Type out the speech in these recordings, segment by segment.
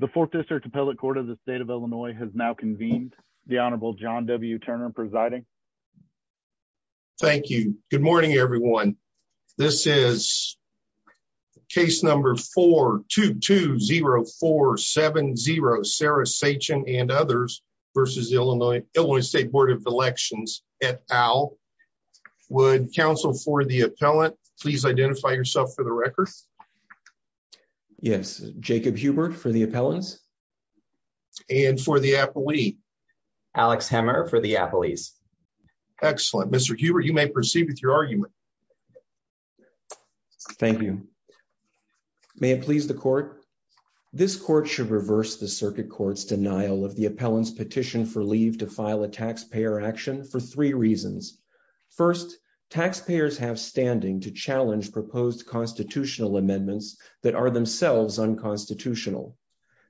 The Fourth District Appellate Court of the State of Illinois has now convened. The Honorable John W. Turner presiding. Thank you. Good morning, everyone. This is case number 4-2-2-0-4-7-0. Sarah Sachin and others versus Illinois State Board of Elections et al. Would counsel for the appellant please identify yourself for the record? Yes. Jacob Hubert for the appellants. And for the appellee? Alex Hemmer for the appellees. Excellent. Mr. Hubert, you may proceed with your argument. Thank you. May it please the court? This court should reverse the circuit court's denial of the appellant's petition for leave to file a taxpayer action for three reasons. First, taxpayers have standing to challenge proposed constitutional amendments that are themselves unconstitutional.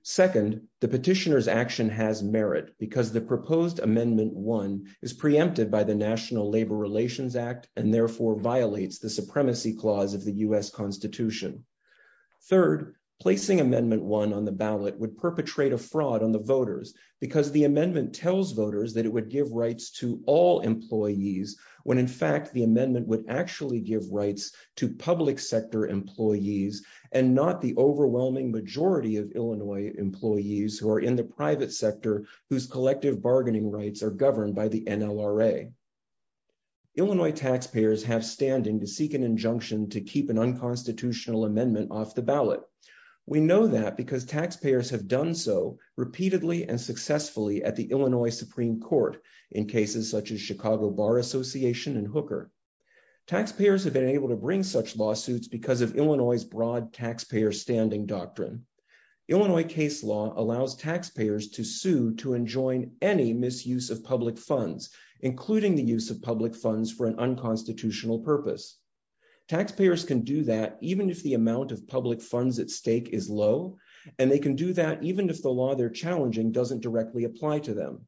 Second, the petitioner's action has merit because the proposed Amendment 1 is preempted by the National Labor Relations Act and therefore violates the supremacy clause of the U.S. Constitution. Third, placing Amendment 1 on the ballot would perpetrate a fraud on the voters because the amendment tells voters that it would give rights to all employees when in fact the amendment would actually give rights to public sector employees and not the overwhelming majority of Illinois employees who are in the private sector whose collective bargaining rights are governed by the NLRA. Illinois taxpayers have standing to seek an injunction to keep an unconstitutional amendment off the ballot. We know that because taxpayers have done so repeatedly and successfully at the Illinois Supreme Court in cases such as Chicago Bar Association and Hooker. Taxpayers have been able to bring such lawsuits because of Illinois' broad taxpayer standing doctrine. Illinois case law allows taxpayers to sue to enjoin any misuse of public funds, including the use of public funds for an unconstitutional purpose. Taxpayers can do that even if the amount of public funds at stake is low, and they can do that even if the law they're challenging doesn't directly apply to them.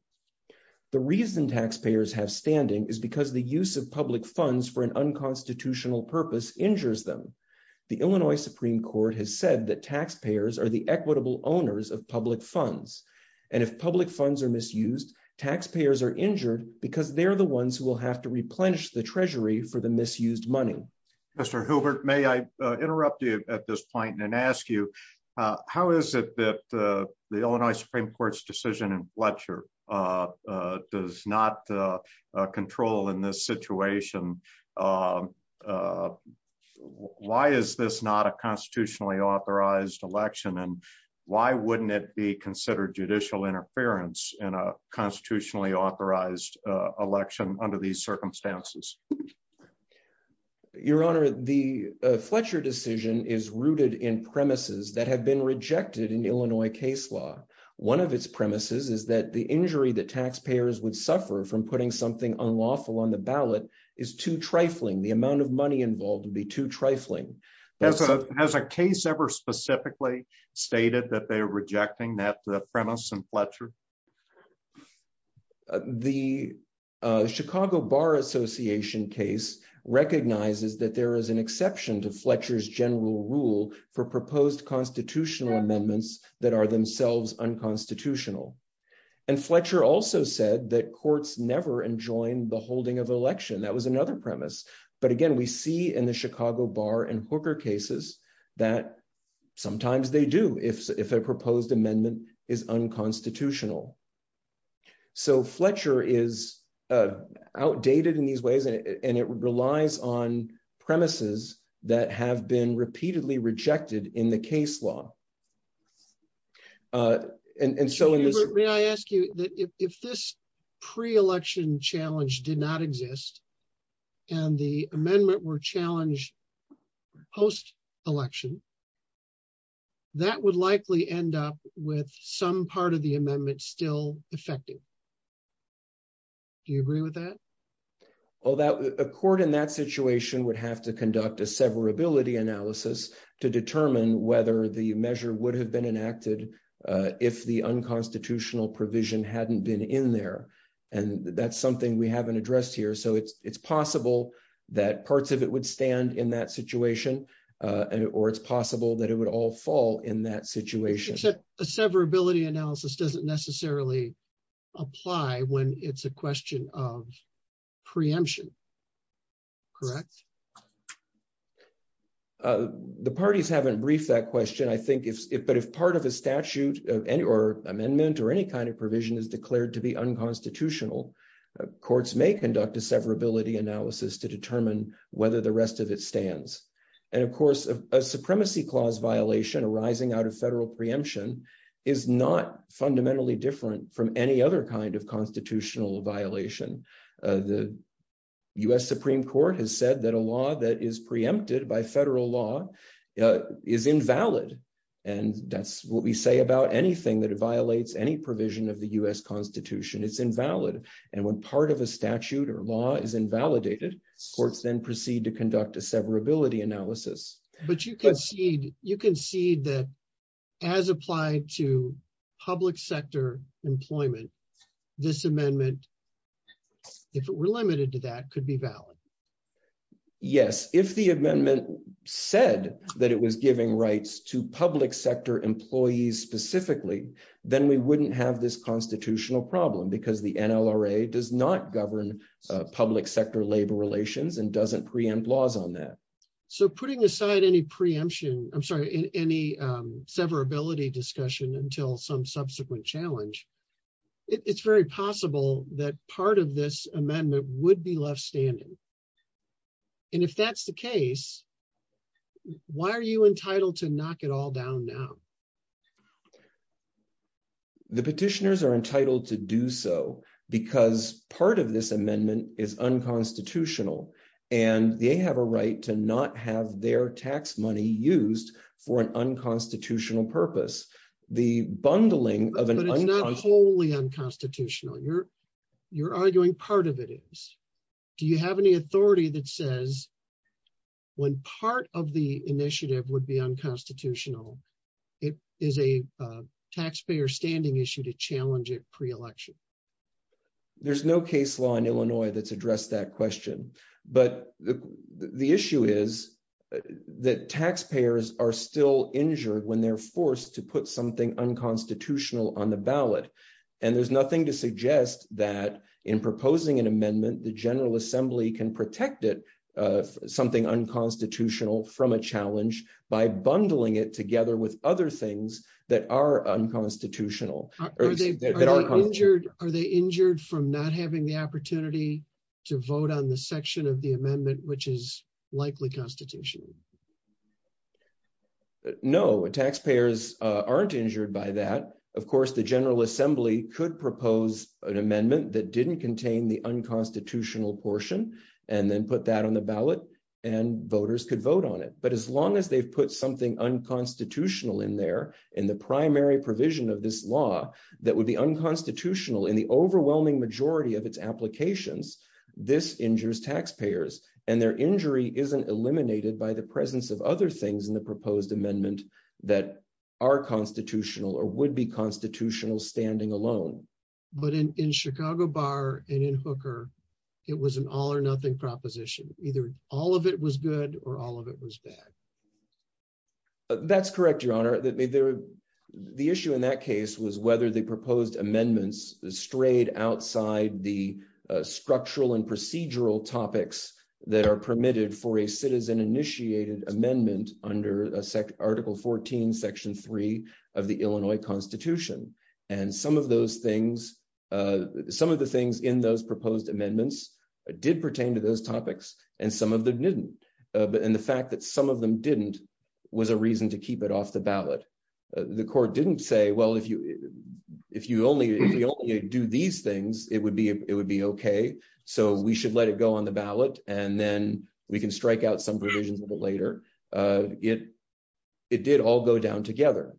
The reason taxpayers have standing is because the use of public funds for an unconstitutional purpose injures them. The Illinois Supreme Court has said that taxpayers are the equitable owners of public funds. And if public funds are misused, taxpayers are injured because they're the ones who will have to replenish the Treasury for the misused money. Mr. Hoover, may I interrupt you at this point and ask you, how is it that the Illinois Supreme Court's decision in Fletcher does not control in this situation? Why is this not a constitutionally authorized election, and why wouldn't it be considered judicial interference in a constitutionally authorized election under these circumstances? Your Honor, the Fletcher decision is rooted in premises that have been rejected in Illinois case law. One of its premises is that the injury that taxpayers would suffer from putting something unlawful on the ballot is too trifling. The amount of money involved would be too trifling. Has a case ever specifically stated that they're rejecting that premise in Fletcher? The Chicago Bar Association case recognizes that there is an exception to Fletcher's general rule for proposed constitutional amendments that are themselves unconstitutional. And Fletcher also said that courts never enjoined the holding of election. That was another premise. But again, we see in the Chicago Bar and Hooker cases that sometimes they do if a proposed amendment is unconstitutional. So Fletcher is outdated in these ways, and it relies on premises that have been repeatedly rejected in the case law. May I ask you, if this pre-election challenge did not exist, and the amendment were challenged post-election, that would likely end up with some part of the amendment still effective. Do you agree with that? Well, a court in that situation would have to conduct a severability analysis to determine whether the measure would have been enacted if the unconstitutional provision hadn't been in there. And that's something we haven't addressed here. So it's possible that parts of it would stand in that situation, or it's possible that it would all fall in that situation. Except a severability analysis doesn't necessarily apply when it's a question of preemption, correct? The parties haven't briefed that question, I think. But if part of a statute or amendment or any kind of provision is declared to be unconstitutional, courts may conduct a severability analysis to determine whether the rest of it stands. And of course, a supremacy clause violation arising out of federal preemption is not fundamentally different from any other kind of constitutional violation. The U.S. Supreme Court has said that a law that is preempted by federal law is invalid. And that's what we say about anything that violates any provision of the U.S. Constitution. It's invalid. And when part of a statute or law is invalidated, courts then proceed to conduct a severability analysis. But you concede that as applied to public sector employment, this amendment, if it were limited to that, could be valid. Yes, if the amendment said that it was giving rights to public sector employees specifically, then we wouldn't have this constitutional problem because the NLRA does not govern public sector labor relations and doesn't preempt laws on that. So putting aside any preemption, I'm sorry, any severability discussion until some subsequent challenge, it's very possible that part of this amendment would be left standing. And if that's the case, why are you entitled to knock it all down now? The petitioners are entitled to do so because part of this amendment is unconstitutional and they have a right to not have their tax money used for an unconstitutional purpose. But it's not wholly unconstitutional. You're arguing part of it is. Do you have any authority that says when part of the initiative would be unconstitutional, it is a taxpayer standing issue to challenge it pre-election? There's no case law in Illinois that's addressed that question. But the issue is that taxpayers are still injured when they're forced to put something unconstitutional on the ballot. And there's nothing to suggest that in proposing an amendment, the General Assembly can protect it, something unconstitutional from a challenge by bundling it together with other things that are unconstitutional. Are they injured from not having the opportunity to vote on the section of the amendment, which is likely constitutional? No, taxpayers aren't injured by that. Of course, the General Assembly could propose an amendment that didn't contain the unconstitutional portion and then put that on the ballot and voters could vote on it. But as long as they've put something unconstitutional in there, in the primary provision of this law that would be unconstitutional in the overwhelming majority of its applications, this injures taxpayers and their injury isn't eliminated by the presence of other things in the proposed amendment that are constitutional or would be constitutional standing alone. But in Chicago Bar and in Hooker, it was an all or nothing proposition. Either all of it was good or all of it was bad. That's correct, Your Honor. The issue in that case was whether the proposed amendments strayed outside the structural and procedural topics that are permitted for a citizen-initiated amendment under Article 14, Section 3 of the Illinois Constitution. And some of the things in those proposed amendments did pertain to those topics and some of them didn't. And the fact that some of them didn't was a reason to keep it off the ballot. The court didn't say, well, if you only do these things, it would be okay, so we should let it go on the ballot and then we can strike out some provisions of it later. It did all go down together.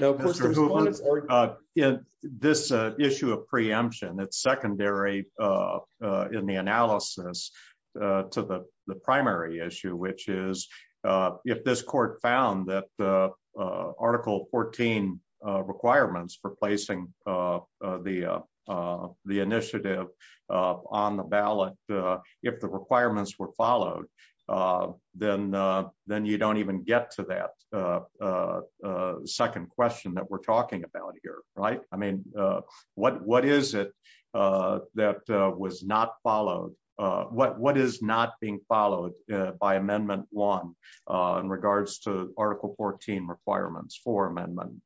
Mr. Hoover, this issue of preemption, it's secondary in the analysis to the primary issue, which is if this court found that Article 14 requirements for placing the initiative on the ballot, if the requirements were followed, then you don't even get to that second question that we're talking about here, right? I mean, what is it that was not followed? What is not being followed by Amendment 1 in regards to Article 14 requirements for amendment?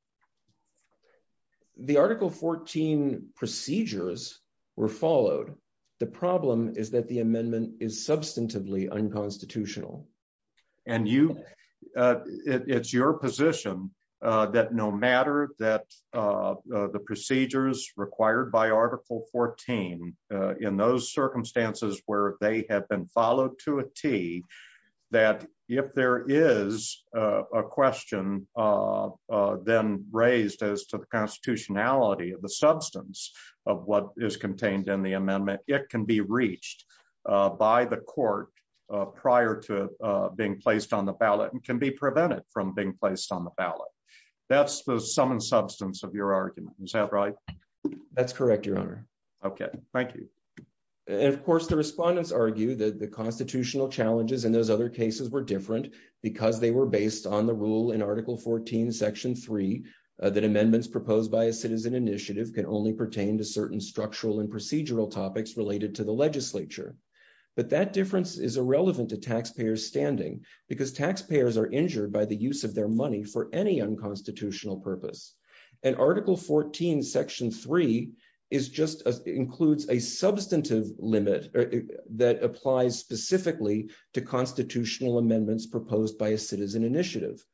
The Article 14 procedures were followed. The problem is that the amendment is substantively unconstitutional. And it's your position that no matter that the procedures required by Article 14, in those circumstances where they have been followed to a T, that if there is a question then raised as to the constitutionality of the substance of what is contained in the amendment, it can be reached by the court prior to being placed on the ballot and can be prevented from being placed on the ballot. That's the sum and substance of your argument. Is that right? That's correct, Your Honor. Okay, thank you. And of course, the respondents argue that the constitutional challenges in those other cases were different because they were based on the rule in Article 14, Section 3, that amendments proposed by a citizen initiative can only pertain to certain structural and procedural topics related to the legislature. But that difference is irrelevant to taxpayers' standing because taxpayers are injured by the use of their money for any unconstitutional purpose. And Article 14, Section 3, includes a substantive limit that applies specifically to constitutional amendments proposed by a citizen initiative.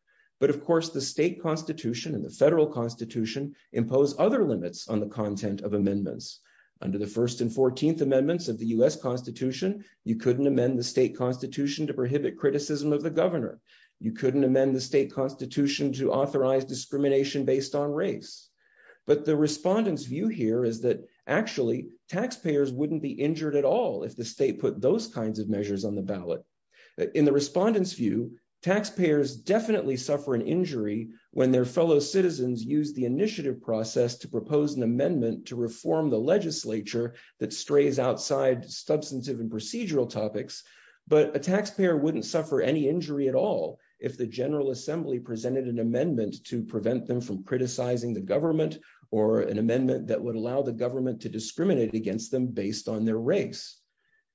But of course, the state constitution and the federal constitution impose other limits on the content of amendments. Under the First and Fourteenth Amendments of the U.S. Constitution, you couldn't amend the state constitution to prohibit criticism of the governor. You couldn't amend the state constitution to authorize discrimination based on race. But the respondents' view here is that actually, taxpayers wouldn't be injured at all if the state put those kinds of measures on the ballot. In the respondents' view, taxpayers definitely suffer an injury when their fellow citizens use the initiative process to propose an amendment to reform the legislature that strays outside substantive and procedural topics. But a taxpayer wouldn't suffer any injury at all if the General Assembly presented an amendment to prevent them from criticizing the government or an amendment that would allow the government to discriminate against them based on their race.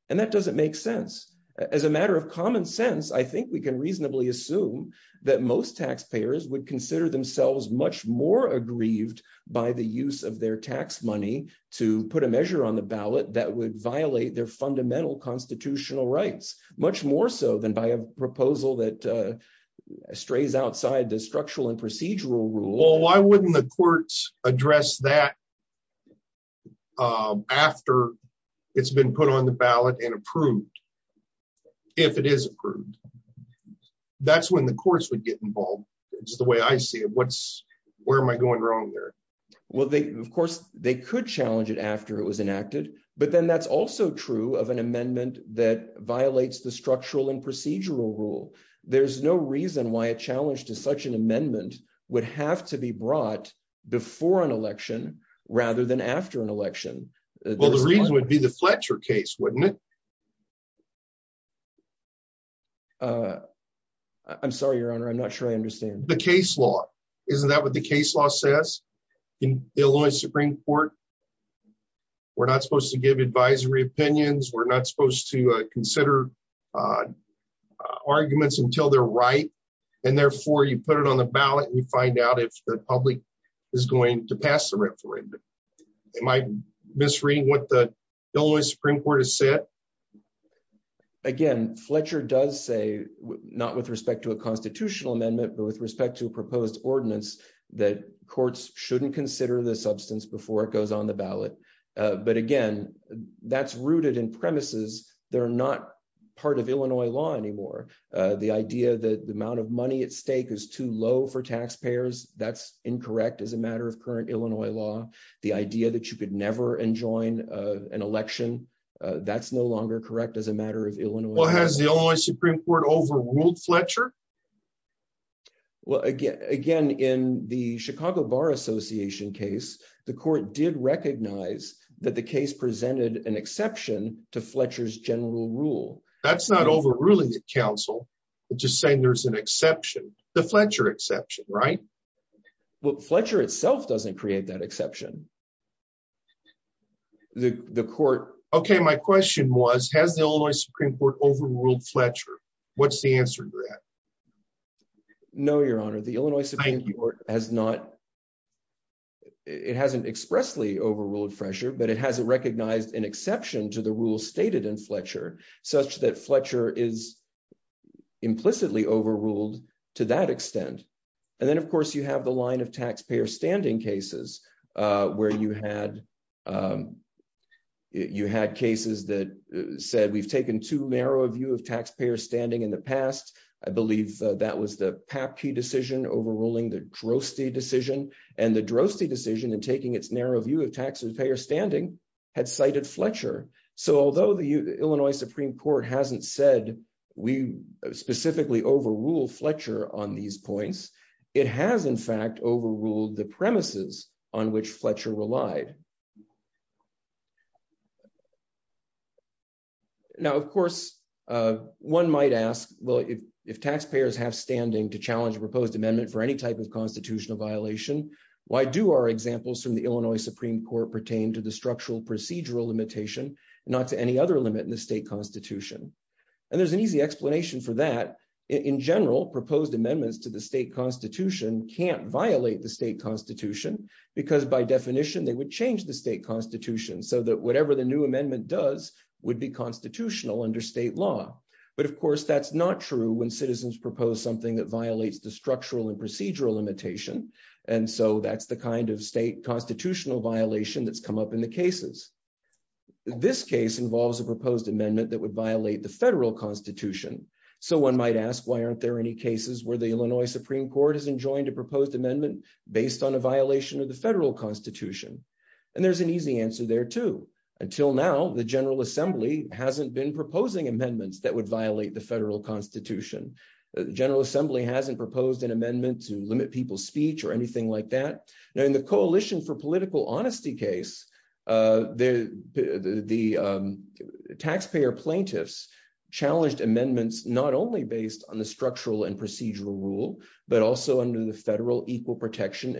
And that doesn't make sense. As a matter of common sense, I think we can reasonably assume that most taxpayers would consider themselves much more aggrieved by the use of their tax money to put a measure on the ballot that would violate their fundamental constitutional rights. Much more so than by a proposal that strays outside the structural and procedural rule. Well, why wouldn't the courts address that after it's been put on the ballot and approved, if it is approved? That's when the courts would get involved. It's the way I see it. Where am I going wrong here? Well, of course, they could challenge it after it was enacted. But then that's also true of an amendment that violates the structural and procedural rule. There's no reason why a challenge to such an amendment would have to be brought before an election rather than after an election. Well, the reason would be the Fletcher case, wouldn't it? I'm sorry, Your Honor, I'm not sure I understand. The case law. Isn't that what the case law says in the Illinois Supreme Court? We're not supposed to give advisory opinions. We're not supposed to consider arguments until they're right. And therefore, you put it on the ballot and you find out if the public is going to pass the referendum. Am I misreading what the Illinois Supreme Court has said? Again, Fletcher does say not with respect to a constitutional amendment, but with respect to a proposed ordinance that courts shouldn't consider the substance before it goes on the ballot. But again, that's rooted in premises. They're not part of Illinois law anymore. The idea that the amount of money at stake is too low for taxpayers, that's incorrect as a matter of current Illinois law. The idea that you could never enjoin an election, that's no longer correct as a matter of Illinois law. Has the Illinois Supreme Court overruled Fletcher? Well, again, in the Chicago Bar Association case, the court did recognize that the case presented an exception to Fletcher's general rule. That's not overruling the council. It's just saying there's an exception, the Fletcher exception, right? Well, Fletcher itself doesn't create that exception. Okay, my question was, has the Illinois Supreme Court overruled Fletcher? What's the answer to that? No, Your Honor, the Illinois Supreme Court hasn't expressly overruled Fletcher, but it hasn't recognized an exception to the rule stated in Fletcher. Such that Fletcher is implicitly overruled to that extent. And then, of course, you have the line of taxpayer standing cases where you had cases that said we've taken too narrow a view of taxpayer standing in the past. I believe that was the Papke decision overruling the Droste decision. And the Droste decision in taking its narrow view of taxpayer standing had cited Fletcher. So although the Illinois Supreme Court hasn't said we specifically overrule Fletcher on these points, it has in fact overruled the premises on which Fletcher relied. Okay. Now, of course, one might ask, well, if taxpayers have standing to challenge a proposed amendment for any type of constitutional violation, why do our examples from the Illinois Supreme Court pertain to the structural procedural limitation, not to any other limit in the state constitution? And there's an easy explanation for that. In general, proposed amendments to the state constitution can't violate the state constitution because by definition they would change the state constitution so that whatever the new amendment does would be constitutional under state law. But of course that's not true when citizens propose something that violates the structural and procedural limitation. And so that's the kind of state constitutional violation that's come up in the cases. This case involves a proposed amendment that would violate the federal constitution. So one might ask, why aren't there any cases where the Illinois Supreme Court has enjoined a proposed amendment based on a violation of the federal constitution? And there's an easy answer there too. Until now, the General Assembly hasn't been proposing amendments that would violate the federal constitution. The General Assembly hasn't proposed an amendment to limit people's speech or anything like that. In the Coalition for Political Honesty case, the taxpayer plaintiffs challenged amendments not only based on the structural and procedural rule, but also under the federal equal The circuit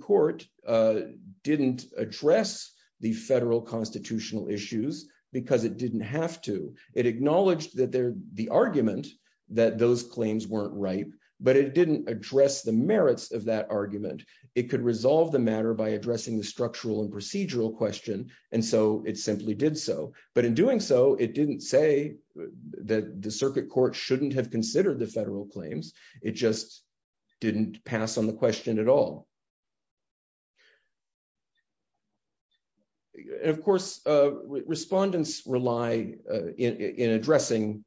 court didn't address the federal constitutional issues because it didn't have to. It acknowledged that the argument that those claims weren't right, but it didn't address the merits of that argument. It could resolve the matter by addressing the structural and procedural question, and so it simply did so. But in doing so, it didn't say that the circuit court shouldn't have considered the federal claims. It just didn't pass on the question at all. Of course, respondents rely in addressing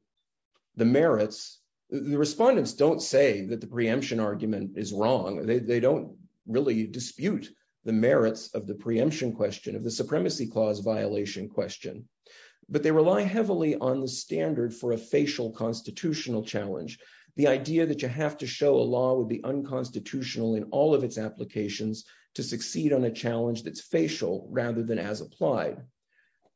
the merits. The respondents don't say that the preemption argument is wrong. They don't really dispute the merits of the preemption question of the supremacy clause violation question. But they rely heavily on the standard for a facial constitutional challenge. The idea that you have to show a law would be unconstitutional in all of its applications to succeed on a challenge that's facial rather than as applied.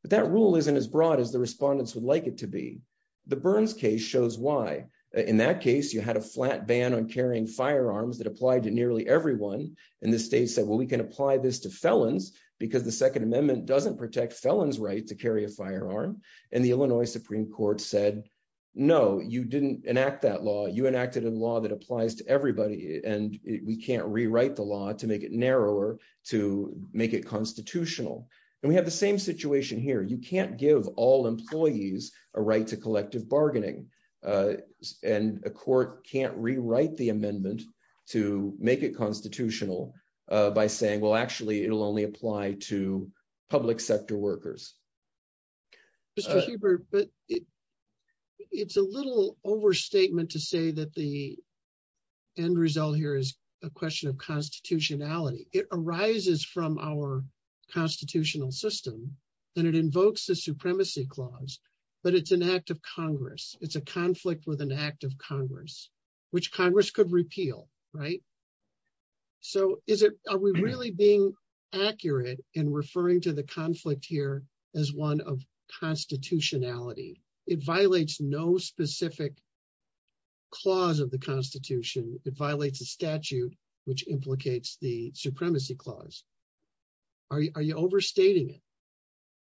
But that rule isn't as broad as the respondents would like it to be. The Burns case shows why. In that case, you had a flat ban on carrying firearms that applied to nearly everyone. And the state said, well, we can apply this to felons because the Second Amendment doesn't protect felons' right to carry a firearm. And the Illinois Supreme Court said, no, you didn't enact that law. You enacted a law that applies to everybody. And we can't rewrite the law to make it narrower, to make it constitutional. And we have the same situation here. You can't give all employees a right to collective bargaining. And a court can't rewrite the amendment to make it constitutional by saying, well, actually, it'll only apply to public sector workers. But it's a little overstatement to say that the end result here is a question of constitutionality. It arises from our constitutional system and it invokes the supremacy clause, but it's an act of Congress. It's a conflict with an act of Congress, which Congress could repeal. Right. So are we really being accurate in referring to the conflict here as one of constitutionality? It violates no specific clause of the Constitution. It violates a statute, which implicates the supremacy clause. Are you overstating it?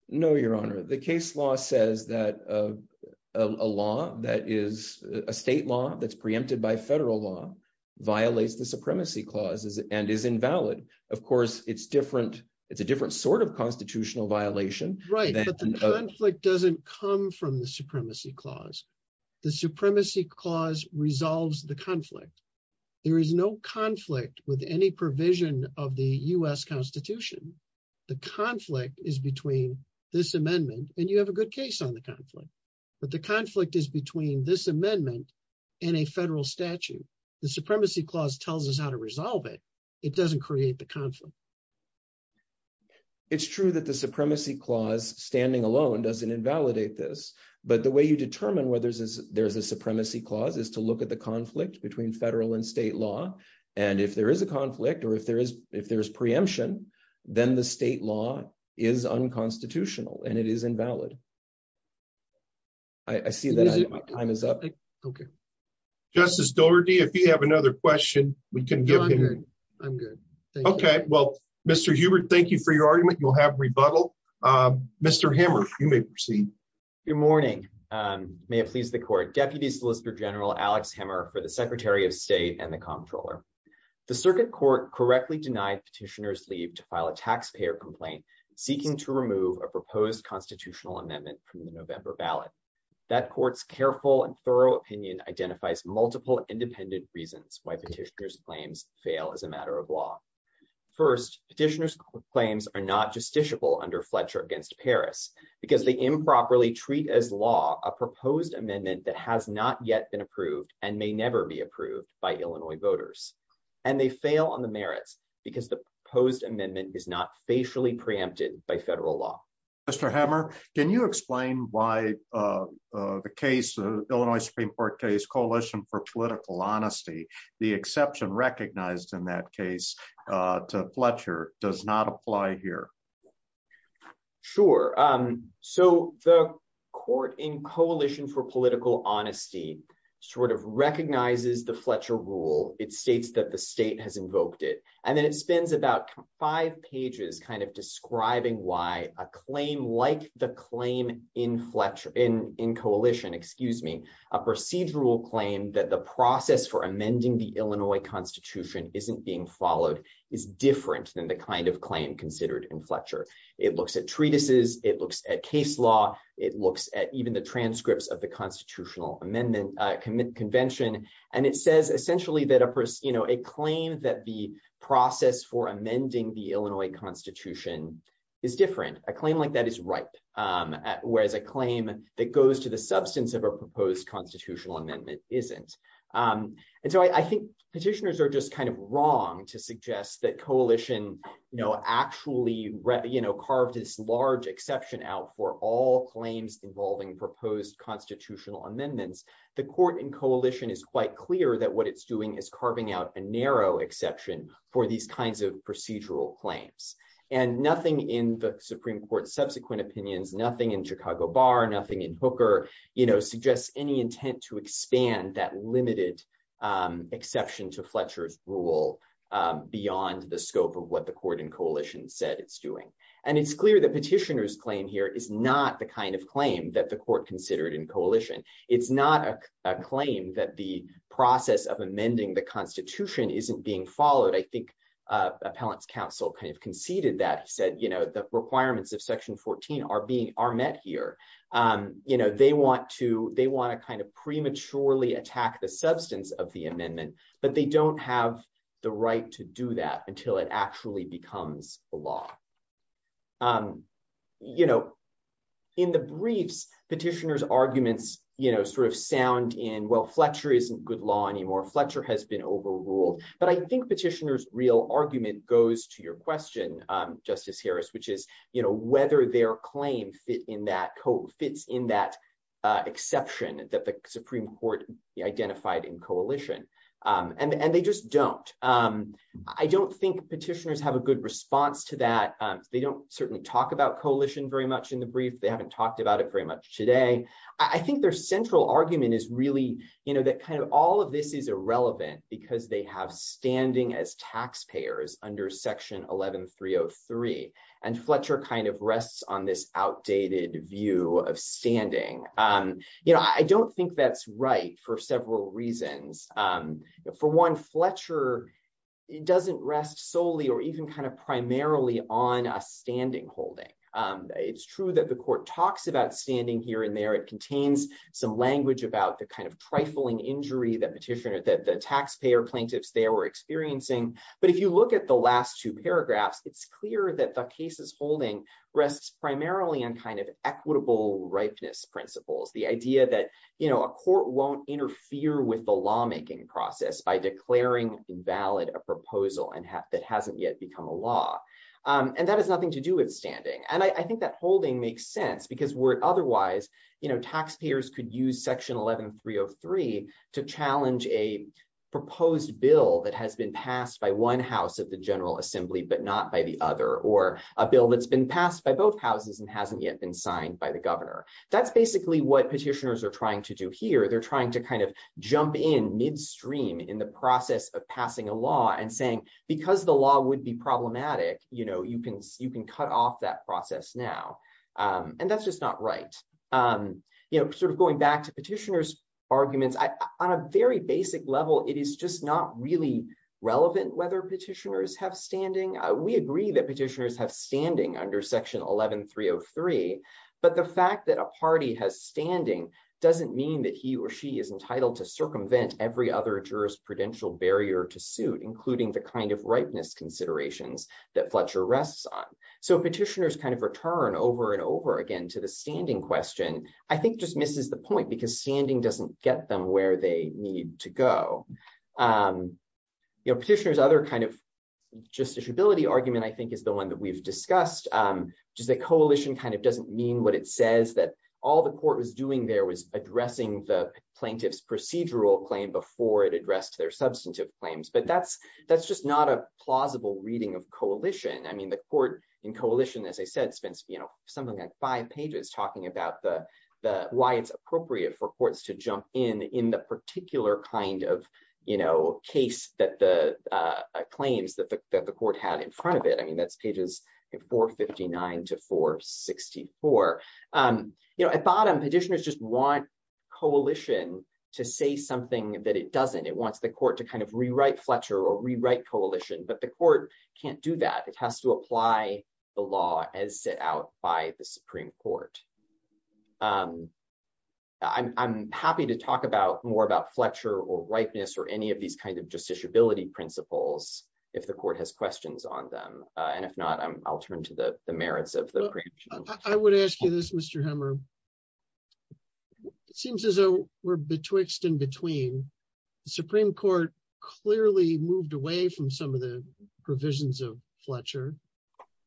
No, Your Honor. The case law says that a law that is a state law that's preempted by federal law violates the supremacy clauses and is invalid. Of course, it's different. It's a different sort of constitutional violation. Right. But the conflict doesn't come from the supremacy clause. The supremacy clause resolves the conflict. There is no conflict with any provision of the U.S. Constitution. The conflict is between this amendment and you have a good case on the conflict. But the conflict is between this amendment and a federal statute. The supremacy clause tells us how to resolve it. It doesn't create the conflict. It's true that the supremacy clause standing alone doesn't invalidate this. But the way you determine whether there's a supremacy clause is to look at the conflict between federal and state law. And if there is a conflict or if there is preemption, then the state law is unconstitutional and it is invalid. I see that my time is up. Okay. Justice Doherty, if you have another question, we can give him. I'm good. Okay. Well, Mr. Hubert, thank you for your argument. You'll have rebuttal. Mr. Hammer, you may proceed. Good morning. May it please the court. Deputy Solicitor General Alex Hammer for the Secretary of State and the Comptroller. The circuit court correctly denied petitioners leave to file a taxpayer complaint seeking to remove a proposed constitutional amendment from the November ballot. That court's careful and thorough opinion identifies multiple independent reasons why petitioners claims fail as a matter of law. First, petitioners claims are not justiciable under Fletcher against Paris, because the improperly treat as law, a proposed amendment that has not yet been approved and may never be approved by Illinois voters, and they fail on the merits, because the proposed amendment is not spatially preempted by federal law. Mr. Hammer, can you explain why the case of Illinois Supreme Court case Coalition for Political Honesty, the exception recognized in that case to Fletcher does not apply here. Sure. So, the court in Coalition for Political Honesty, sort of recognizes the Fletcher rule, it states that the state has invoked it, and then it spends about five pages kind of describing why a claim like the claim in Fletcher in in coalition, excuse me, a procedural claim that the process for amending the Illinois Constitution isn't being followed is different than the kind of claim considered in Fletcher, it looks at treatises, it looks at case law, it looks at even the transcripts of the constitutional amendment convention, and it says essentially that a person, you know, a claim that the process for amending the Illinois Constitution is different, a claim like that is right. Whereas a claim that goes to the substance of a proposed constitutional amendment isn't. And so I think petitioners are just kind of wrong to suggest that coalition know actually read you know carved this large exception out for all claims involving proposed constitutional amendments, the court in coalition is quite clear that what it's doing is carving out a narrow exception for these kinds of procedural claims, and nothing in the Supreme Court subsequent opinions nothing in Chicago bar nothing in hooker, you know suggests any intent to expand that limited exception to Fletcher's rule. Beyond the scope of what the court in coalition said it's doing. And it's clear that petitioners claim here is not the kind of claim that the court considered in coalition, it's not a claim that the process of amending the Constitution isn't being followed I think appellant's counsel kind of conceded that he said you know the requirements of section 14 are being are met here. You know, they want to, they want to kind of prematurely attack the substance of the amendment, but they don't have the right to do that until it actually becomes a law. You know, in the briefs petitioners arguments, you know sort of sound in well Fletcher isn't good law anymore Fletcher has been overruled, but I think petitioners real argument goes to your question. Justice Harris, which is, you know, whether their claim fit in that code fits in that exception that the Supreme Court identified in coalition, and they just don't. I don't think petitioners have a good response to that. They don't certainly talk about coalition very much in the brief they haven't talked about it very much today. I think their central argument is really, you know that kind of all of this is irrelevant, because they have standing as taxpayers under section 11303 and Fletcher kind of rests on this outdated view of standing. You know, I don't think that's right for several reasons. For one Fletcher. It doesn't rest solely or even kind of primarily on a standing holding. It's true that the court talks about standing here and there it contains some language about the kind of trifling injury that petitioner that the taxpayer plaintiffs they were experiencing. But if you look at the last two paragraphs, it's clear that the cases holding rests primarily on kind of equitable ripeness principles, the idea that, you know, a court won't interfere with the lawmaking process by declaring invalid a proposal and that hasn't yet become a law. And that has nothing to do with standing and I think that holding makes sense because we're otherwise, you know, taxpayers could use section 11303 to challenge a proposed bill that has been passed by one house of the General because the law would be problematic, you know you can you can cut off that process now. And that's just not right. You know, sort of going back to petitioners arguments on a very basic level, it is just not really relevant whether petitioners have standing, we agree that petitioners have standing under section 11303, but the fact that a party has standing doesn't mean that he or she has a jurisprudential barrier to suit including the kind of ripeness considerations that Fletcher rests on. So petitioners kind of return over and over again to the standing question, I think just misses the point because standing doesn't get them where they need to go. You know petitioners other kind of justiciability argument I think is the one that we've discussed. Just the coalition kind of doesn't mean what it says that all the court was doing there was addressing the plaintiffs procedural claim before it addressed their substantive claims but that's, that's just not a plausible reading of coalition. I mean the court in coalition as I said spends, you know, something like five pages talking about the, the why it's appropriate for courts to jump in in the particular kind of, you know, case that the claims that the court had in front of it I mean that's pages 459 to 464. You know at bottom petitioners just want coalition to say something that it doesn't it wants the court to kind of rewrite Fletcher or rewrite coalition but the court can't do that it has to apply the law as set out by the Supreme Court. I'm happy to talk about more about Fletcher or ripeness or any of these kinds of justiciability principles. If the court has questions on them. And if not, I'll turn to the merits of the. I would ask you this Mr hammer seems as though we're betwixt in between Supreme Court, clearly moved away from some of the provisions of Fletcher.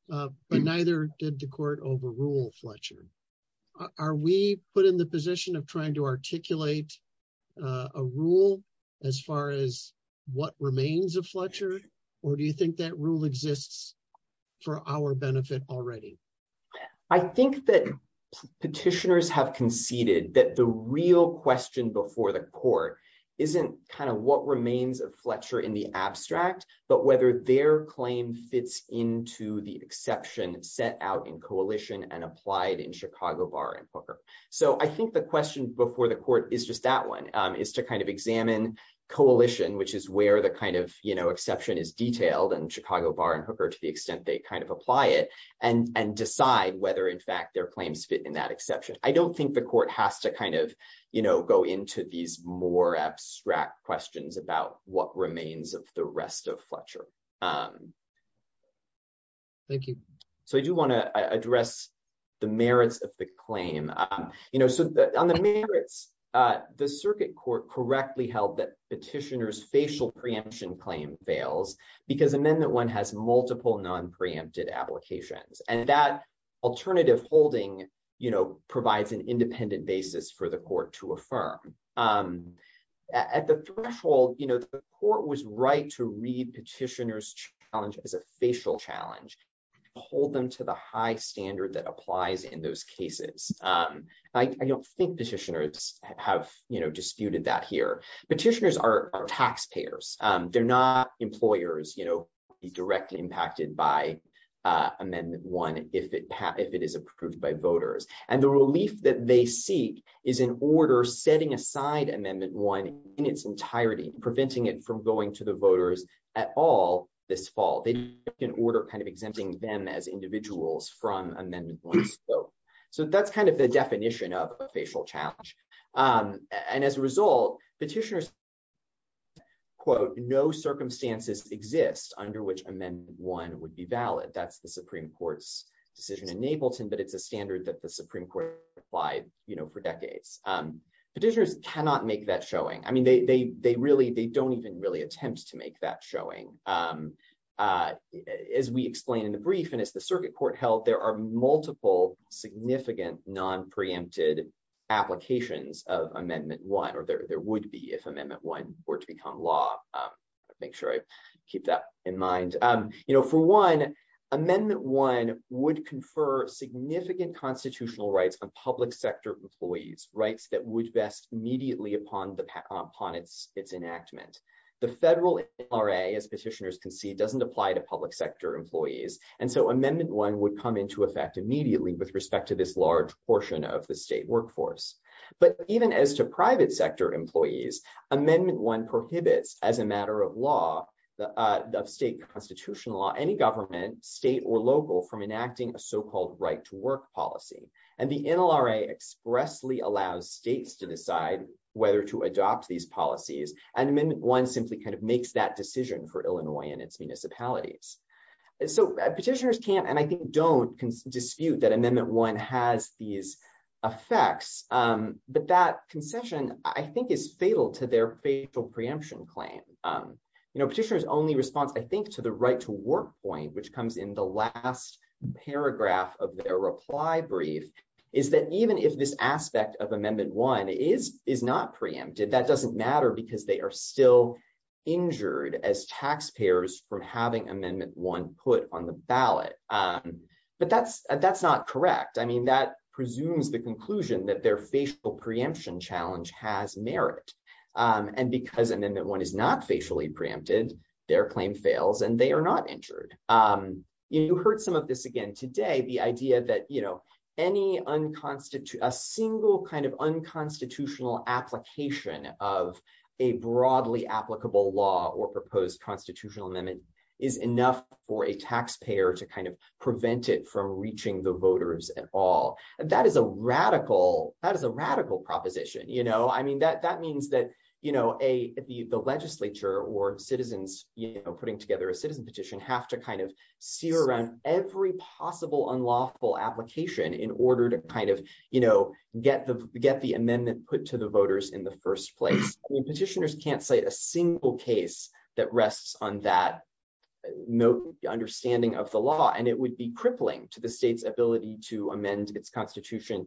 But neither did the court overrule Fletcher. Are we put in the position of trying to articulate a rule, as far as what remains of Fletcher, or do you think that rule exists for our benefit already. I think that petitioners have conceded that the real question before the court isn't kind of what remains of Fletcher in the abstract, but whether their claim fits into the exception set out in coalition and applied in Chicago bar and hooker. So I think the question before the court is just that one is to kind of examine coalition which is where the kind of, you know, exception is detailed and Chicago bar and hooker to the extent they kind of apply it and and decide whether in fact their claims fit in that exception, I don't think the court has to kind of, you know, go into these more abstract questions about what remains of the rest of Fletcher. Thank you. So I do want to address the merits of the claim, you know, so that on the merits. The circuit court correctly held that petitioners facial preemption claim fails because and then that one has multiple non preempted applications and that alternative holding, you know, provides an independent basis for the court to affirm. At the threshold, you know, the court was right to read petitioners challenge as a facial challenge, hold them to the high standard that applies in those cases. I don't think petitioners have you know disputed that here petitioners are taxpayers, they're not employers, you know, be directly impacted by amendment one if it if it is approved by voters and the relief that they seek is in order setting aside amendment one in its entirety, preventing it from going to the voters at all. This fall, they can order kind of exempting them as individuals from amendment. So that's kind of the definition of a facial challenge. And as a result, petitioners. Quote, no circumstances exist under which amendment one would be valid. That's the Supreme Court's decision in Napleton, but it's a standard that the Supreme Court applied, you know, for decades petitioners cannot make that showing I mean they they really they don't even really attempt to make that showing. As we explained in the brief and it's the circuit court held there are multiple significant non preempted applications of amendment one or there there would be if amendment one were to become law. Make sure I keep that in mind, you know, for one amendment one would confer significant constitutional rights on public sector employees rights that would best immediately upon the upon its, its enactment, the federal RA as petitioners can see amendment one prohibits as a matter of law, the state constitutional law any government state or local from enacting a so called right to work policy, and the NLRA expressly allows states to decide whether to adopt these policies and amendment one simply kind of makes that decision for Illinois and its municipalities. So petitioners can and I think don't dispute that amendment one has these effects, but that concession, I think is fatal to their facial preemption claim. You know petitioners only response I think to the right to work point which comes in the last paragraph of their reply brief, is that even if this aspect of amendment one is is not preempted that doesn't matter because they are still injured as taxpayers from having amendment one put on the ballot. But that's, that's not correct I mean that presumes the conclusion that their facial preemption challenge has merit, and because and then that one is not facially preempted their claim fails and they are not injured. You heard some of this again today the idea that you know any unconstituted a single kind of unconstitutional application of a broadly applicable law or proposed constitutional amendment is enough for a taxpayer to kind of prevent it from reaching the voters at all. That is a radical, that is a radical proposition you know I mean that that means that, you know, a, the legislature or citizens, you know, putting together a citizen petition have to kind of see around every possible unlawful application in order to kind of, you know, get the get the amendment put to the voters in the first place petitioners can't say a single case that rests on that note, the understanding of the law and it would be crippling to the state's ability to amend its constitution.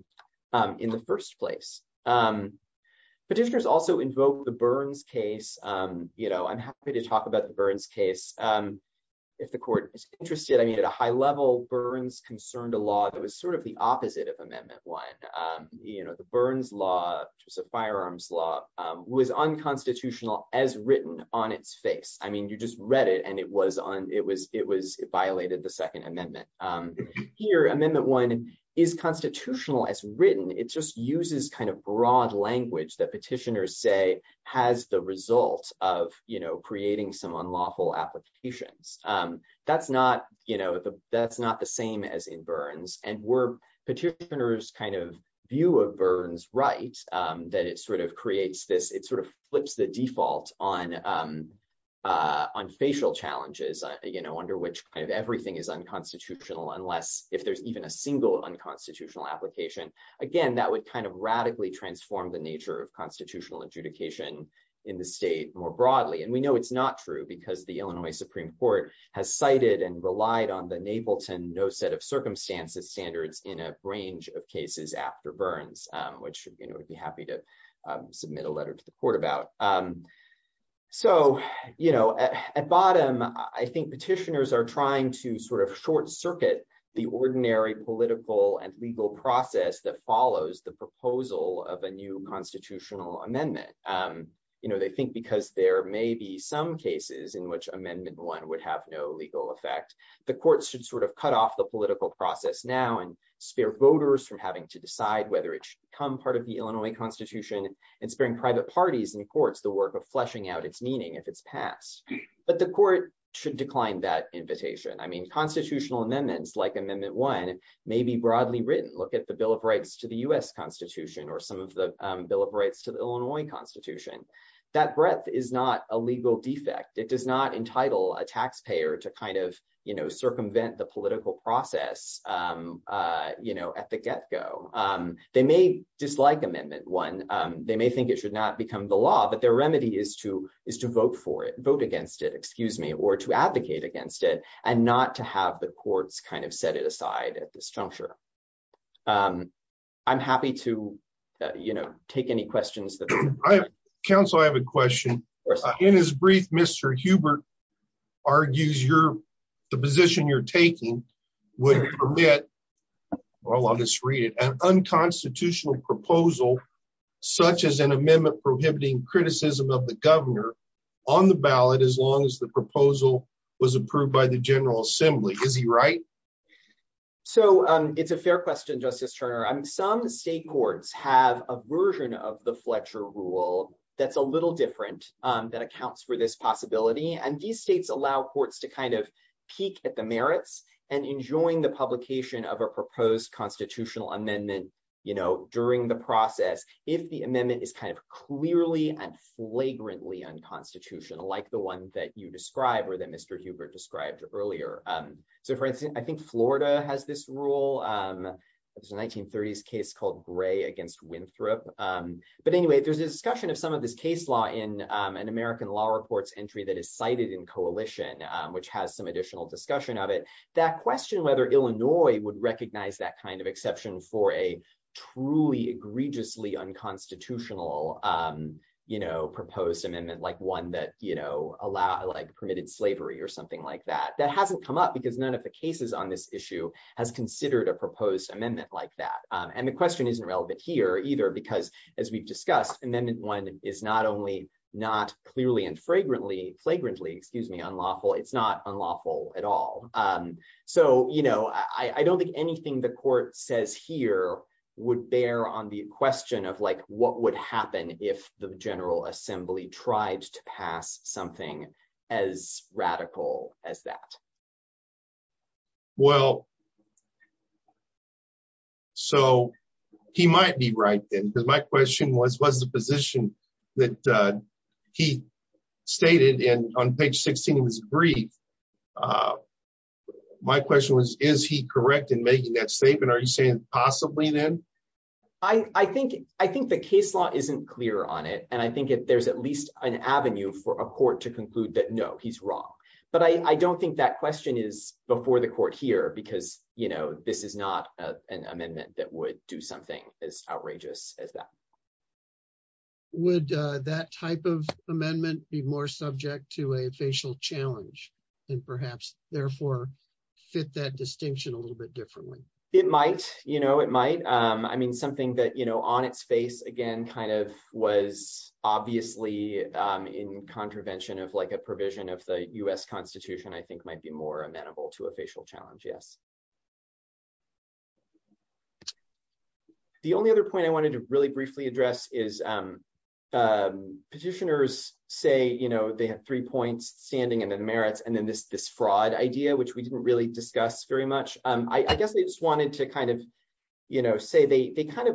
In the first place. Petitioners also invoke the burns case, you know, I'm happy to talk about the burns case. If the court is interested I mean at a high level burns concerned a law that was sort of the opposite of amendment one, you know, the burns law, just a firearms law was unconstitutional as written on its face, I mean you just read it and it was on it was, it was violated the Second Amendment. Here amendment one is constitutional as written it just uses kind of broad language that petitioners say has the result of, you know, creating some unlawful applications. That's not, you know, that's not the same as in burns and we're petitioners kind of view of burns right that it sort of creates this it sort of flips the default on on facial challenges, you know, under which kind of everything is unconstitutional unless if there's even a single unconstitutional application. Again, that would kind of radically transform the nature of constitutional adjudication in the state more broadly and we know it's not true because the Illinois Supreme Court has cited and relied on the idea that the ordinary political and legal process that follows the proposal of a new constitutional amendment. You know they think because there may be some cases in which amendment one would have no legal effect. The courts should sort of cut off the political process now and spare voters from having to decide whether it should come part of the Illinois Constitution and sparing private parties and courts the work of fleshing out its meaning if it's passed, but the court should decline that invitation I mean constitutional amendments like amendment one, maybe broadly written look at the Bill of Rights to the US Constitution or some of the Bill of Rights to the Illinois Constitution, that breath is not a legal defect it does not entitle a taxpayer to kind of, you know, circumvent the political process. You know at the get go. They may dislike amendment one, they may think it should not become the law but their remedy is to is to vote for it, vote against it, excuse me, or to advocate against it, and not to have the courts kind of set it aside at this juncture. I'm happy to, you know, take any questions that I counsel I have a question. In his brief Mr Hubert argues your position you're taking would permit all of this read an unconstitutional proposal, such as an amendment prohibiting criticism of the governor on the ballot as long as the proposal was approved by the General Assembly, is he right. So, it's a fair question Justice Turner I'm some state courts have a version of the Fletcher rule, that's a little different than accounts for this possibility and these states allow courts to kind of peek at the merits and enjoying the publication of a proposed constitutional amendment, you know, during the process, if the amendment is kind of clearly and flagrantly unconstitutional like the one that you described or that Mr Hubert described earlier. So for instance, I think Florida has this rule. 1930s case called gray against Winthrop. But anyway, there's a discussion of some of this case law in an American law reports entry that is cited in coalition, which has some additional discussion of it, that question whether Illinois would recognize that kind of exception for a truly egregiously unconstitutional, you know proposed amendment like one that you know allow like permitted slavery or something like that that hasn't come up because none of the cases on this issue has considered a proposed amendment like that. And the question isn't relevant here either because, as we've discussed, and then one is not only not clearly and fragrantly flagrantly excuse me unlawful it's not unlawful at all. So, you know, I don't think anything the court says here would bear on the question of like, what would happen if the General Assembly tried to pass something as radical as that. Well, so he might be right then because my question was was the position that he stated in on page 16 was brief. My question was, is he correct in making that statement are you saying, possibly then, I think, I think the case law isn't clear on it and I think it there's at least an avenue for a court to conclude that no he's wrong. But I don't think that question is before the court here because, you know, this is not an amendment that would do something as outrageous as that. Would that type of amendment be more subject to a facial challenge, and perhaps, therefore, fit that distinction a little bit differently. It might, you know, it might. I mean something that you know on its face again kind of was obviously in contravention of like a provision of the US Constitution, I think might be more amenable to a facial challenge yes. The only other point I wanted to really briefly address is petitioners say you know they have three points standing in the merits and then this this fraud idea which we didn't really discuss very much, I guess they just wanted to kind of, you know, say they have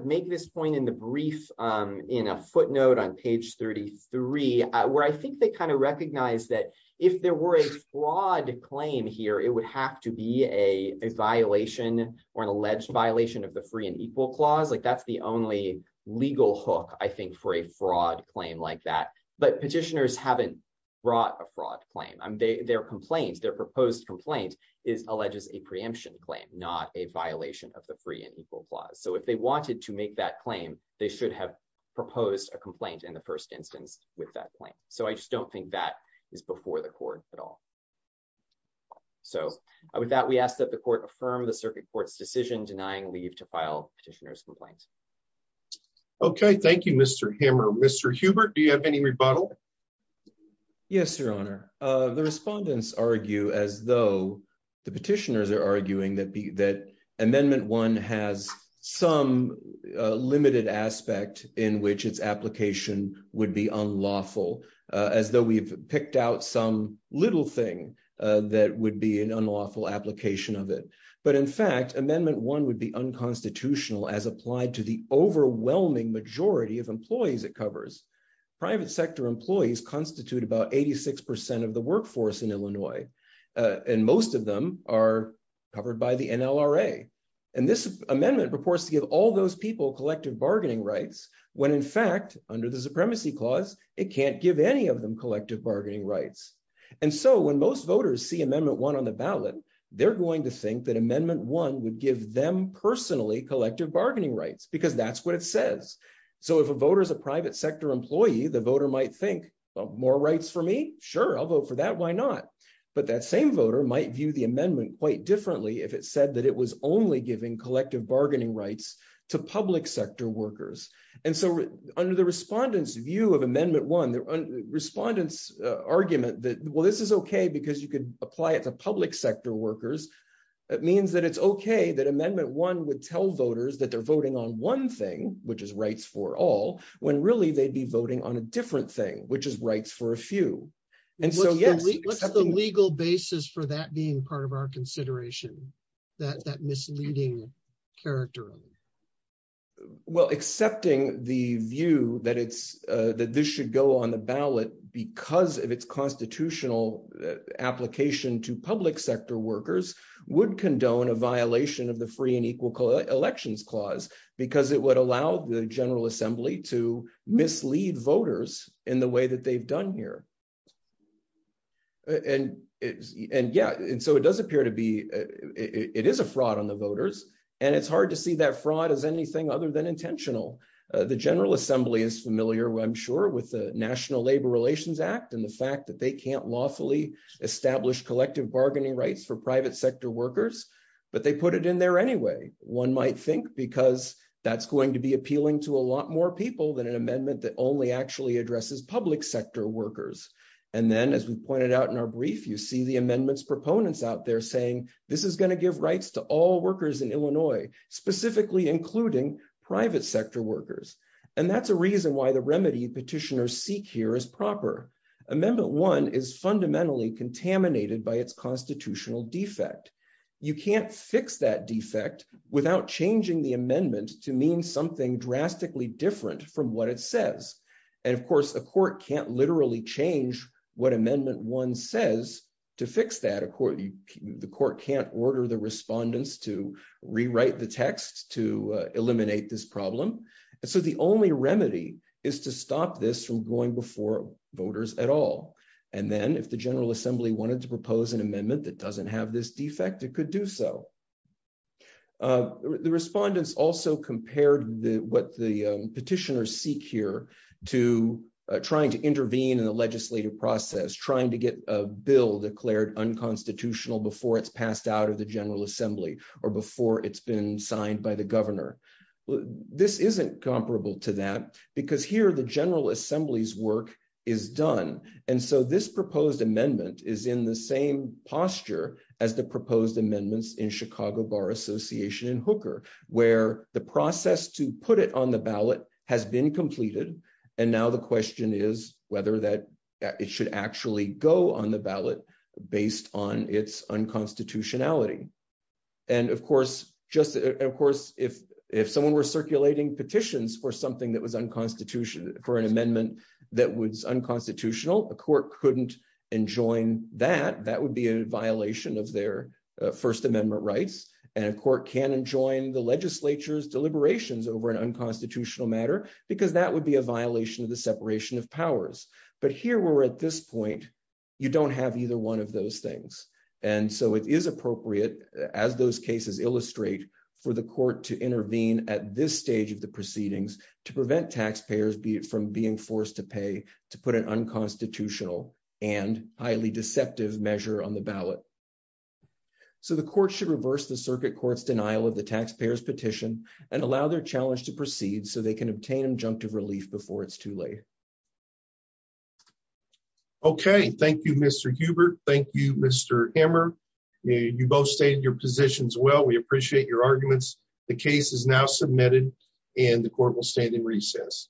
a violation or an alleged violation of the free and equal clause like that's the only legal hook I think for a fraud claim like that, but petitioners haven't brought a fraud claim I'm their complaints their proposed complaint is alleges a preemption claim, not a violation of the free and equal clause so if they wanted to make that claim, they should have proposed a complaint in the first instance, with that claim. So I just don't think that is before the court at all. So, with that we asked that the court affirm the circuit court's decision denying leave to file petitioners complaints. Okay, thank you, Mr hammer Mr Hubert do you have any rebuttal. Yes, Your Honor. The respondents argue as though the petitioners are arguing that be that amendment one has some limited aspect in which its application would be unlawful, as though we've picked out some little thing that would be an unlawful application of it, but in fact amendment one would be unconstitutional as applied to the overwhelming majority of employees it covers private sector employees constitute about 86% of the workforce in Illinois, and most of them are covered by the NLRA, and this amendment proposed to give all those people collective bargaining rights, when in fact, under the supremacy clause, it can't give any of them collective bargaining rights. And so when most voters see amendment one on the ballot, they're going to think that amendment one would give them personally collective bargaining rights because that's what it says. So if a voter is a private sector employee the voter might think more rights for me, sure I'll vote for that why not. But that same voter might view the amendment quite differently if it said that it was only giving collective bargaining rights to public sector workers. And so, under the respondents view of amendment one the respondents argument that well this is okay because you could apply it to public sector workers. It means that it's okay that amendment one would tell voters that they're voting on one thing, which is rights for all when really they'd be voting on a different thing, which is rights for a few. And so yes, legal basis for that being part of our consideration that that misleading character. Well, accepting the view that it's that this should go on the ballot, because of its constitutional application to public sector workers would condone a violation of the free and equal elections clause, because it would allow the General Assembly to mislead voters in the way that they've done here. And it's, and yeah, and so it does appear to be, it is a fraud on the voters, and it's hard to see that fraud is anything other than intentional. The General Assembly is familiar with I'm sure with the National Labor Relations Act and the fact that they can't lawfully established collective bargaining rights for private sector workers, but they put it in there anyway. One might think because that's going to be appealing to a lot more people than an amendment that only actually addresses public sector workers. And then as we pointed out in our brief you see the amendments proponents out there saying this is going to give rights to all workers in Illinois, specifically including private sector workers. And that's a reason why the remedy petitioners seek here is proper amendment one is fundamentally contaminated by its constitutional defect. You can't fix that defect, without changing the amendment to mean something drastically different from what it says. And of course the court can't literally change what amendment one says to fix that according to the court can't order the respondents to rewrite the text to eliminate this problem. So the only remedy is to stop this from going before voters at all. And then if the General Assembly wanted to propose an amendment that doesn't have this defect it could do so. The respondents also compared the what the petitioners seek here to trying to intervene in the legislative process trying to get a bill declared unconstitutional before it's passed out of the General Assembly, or before it's been signed by the governor. This isn't comparable to that, because here the General Assembly's work is done. And so this proposed amendment is in the same posture as the proposed amendments in Chicago Bar Association and Hooker, where the process to put it on the ballot has been completed. And now the question is whether that it should actually go on the ballot, based on its unconstitutionality. And of course, if someone were circulating petitions for something that was unconstitutional, for an amendment that was unconstitutional, a court couldn't enjoin that, that would be a violation of their First Amendment rights, and a court can't enjoin the legislature's as those cases illustrate for the court to intervene at this stage of the proceedings to prevent taxpayers be it from being forced to pay to put an unconstitutional and highly deceptive measure on the ballot. So the court should reverse the circuit court's denial of the taxpayers petition and allow their challenge to proceed so they can obtain injunctive relief before it's too late. Okay, thank you, Mr. Hubert. Thank you, Mr. Hammer. You both stated your positions well, we appreciate your arguments. The case is now submitted, and the court will stand in recess.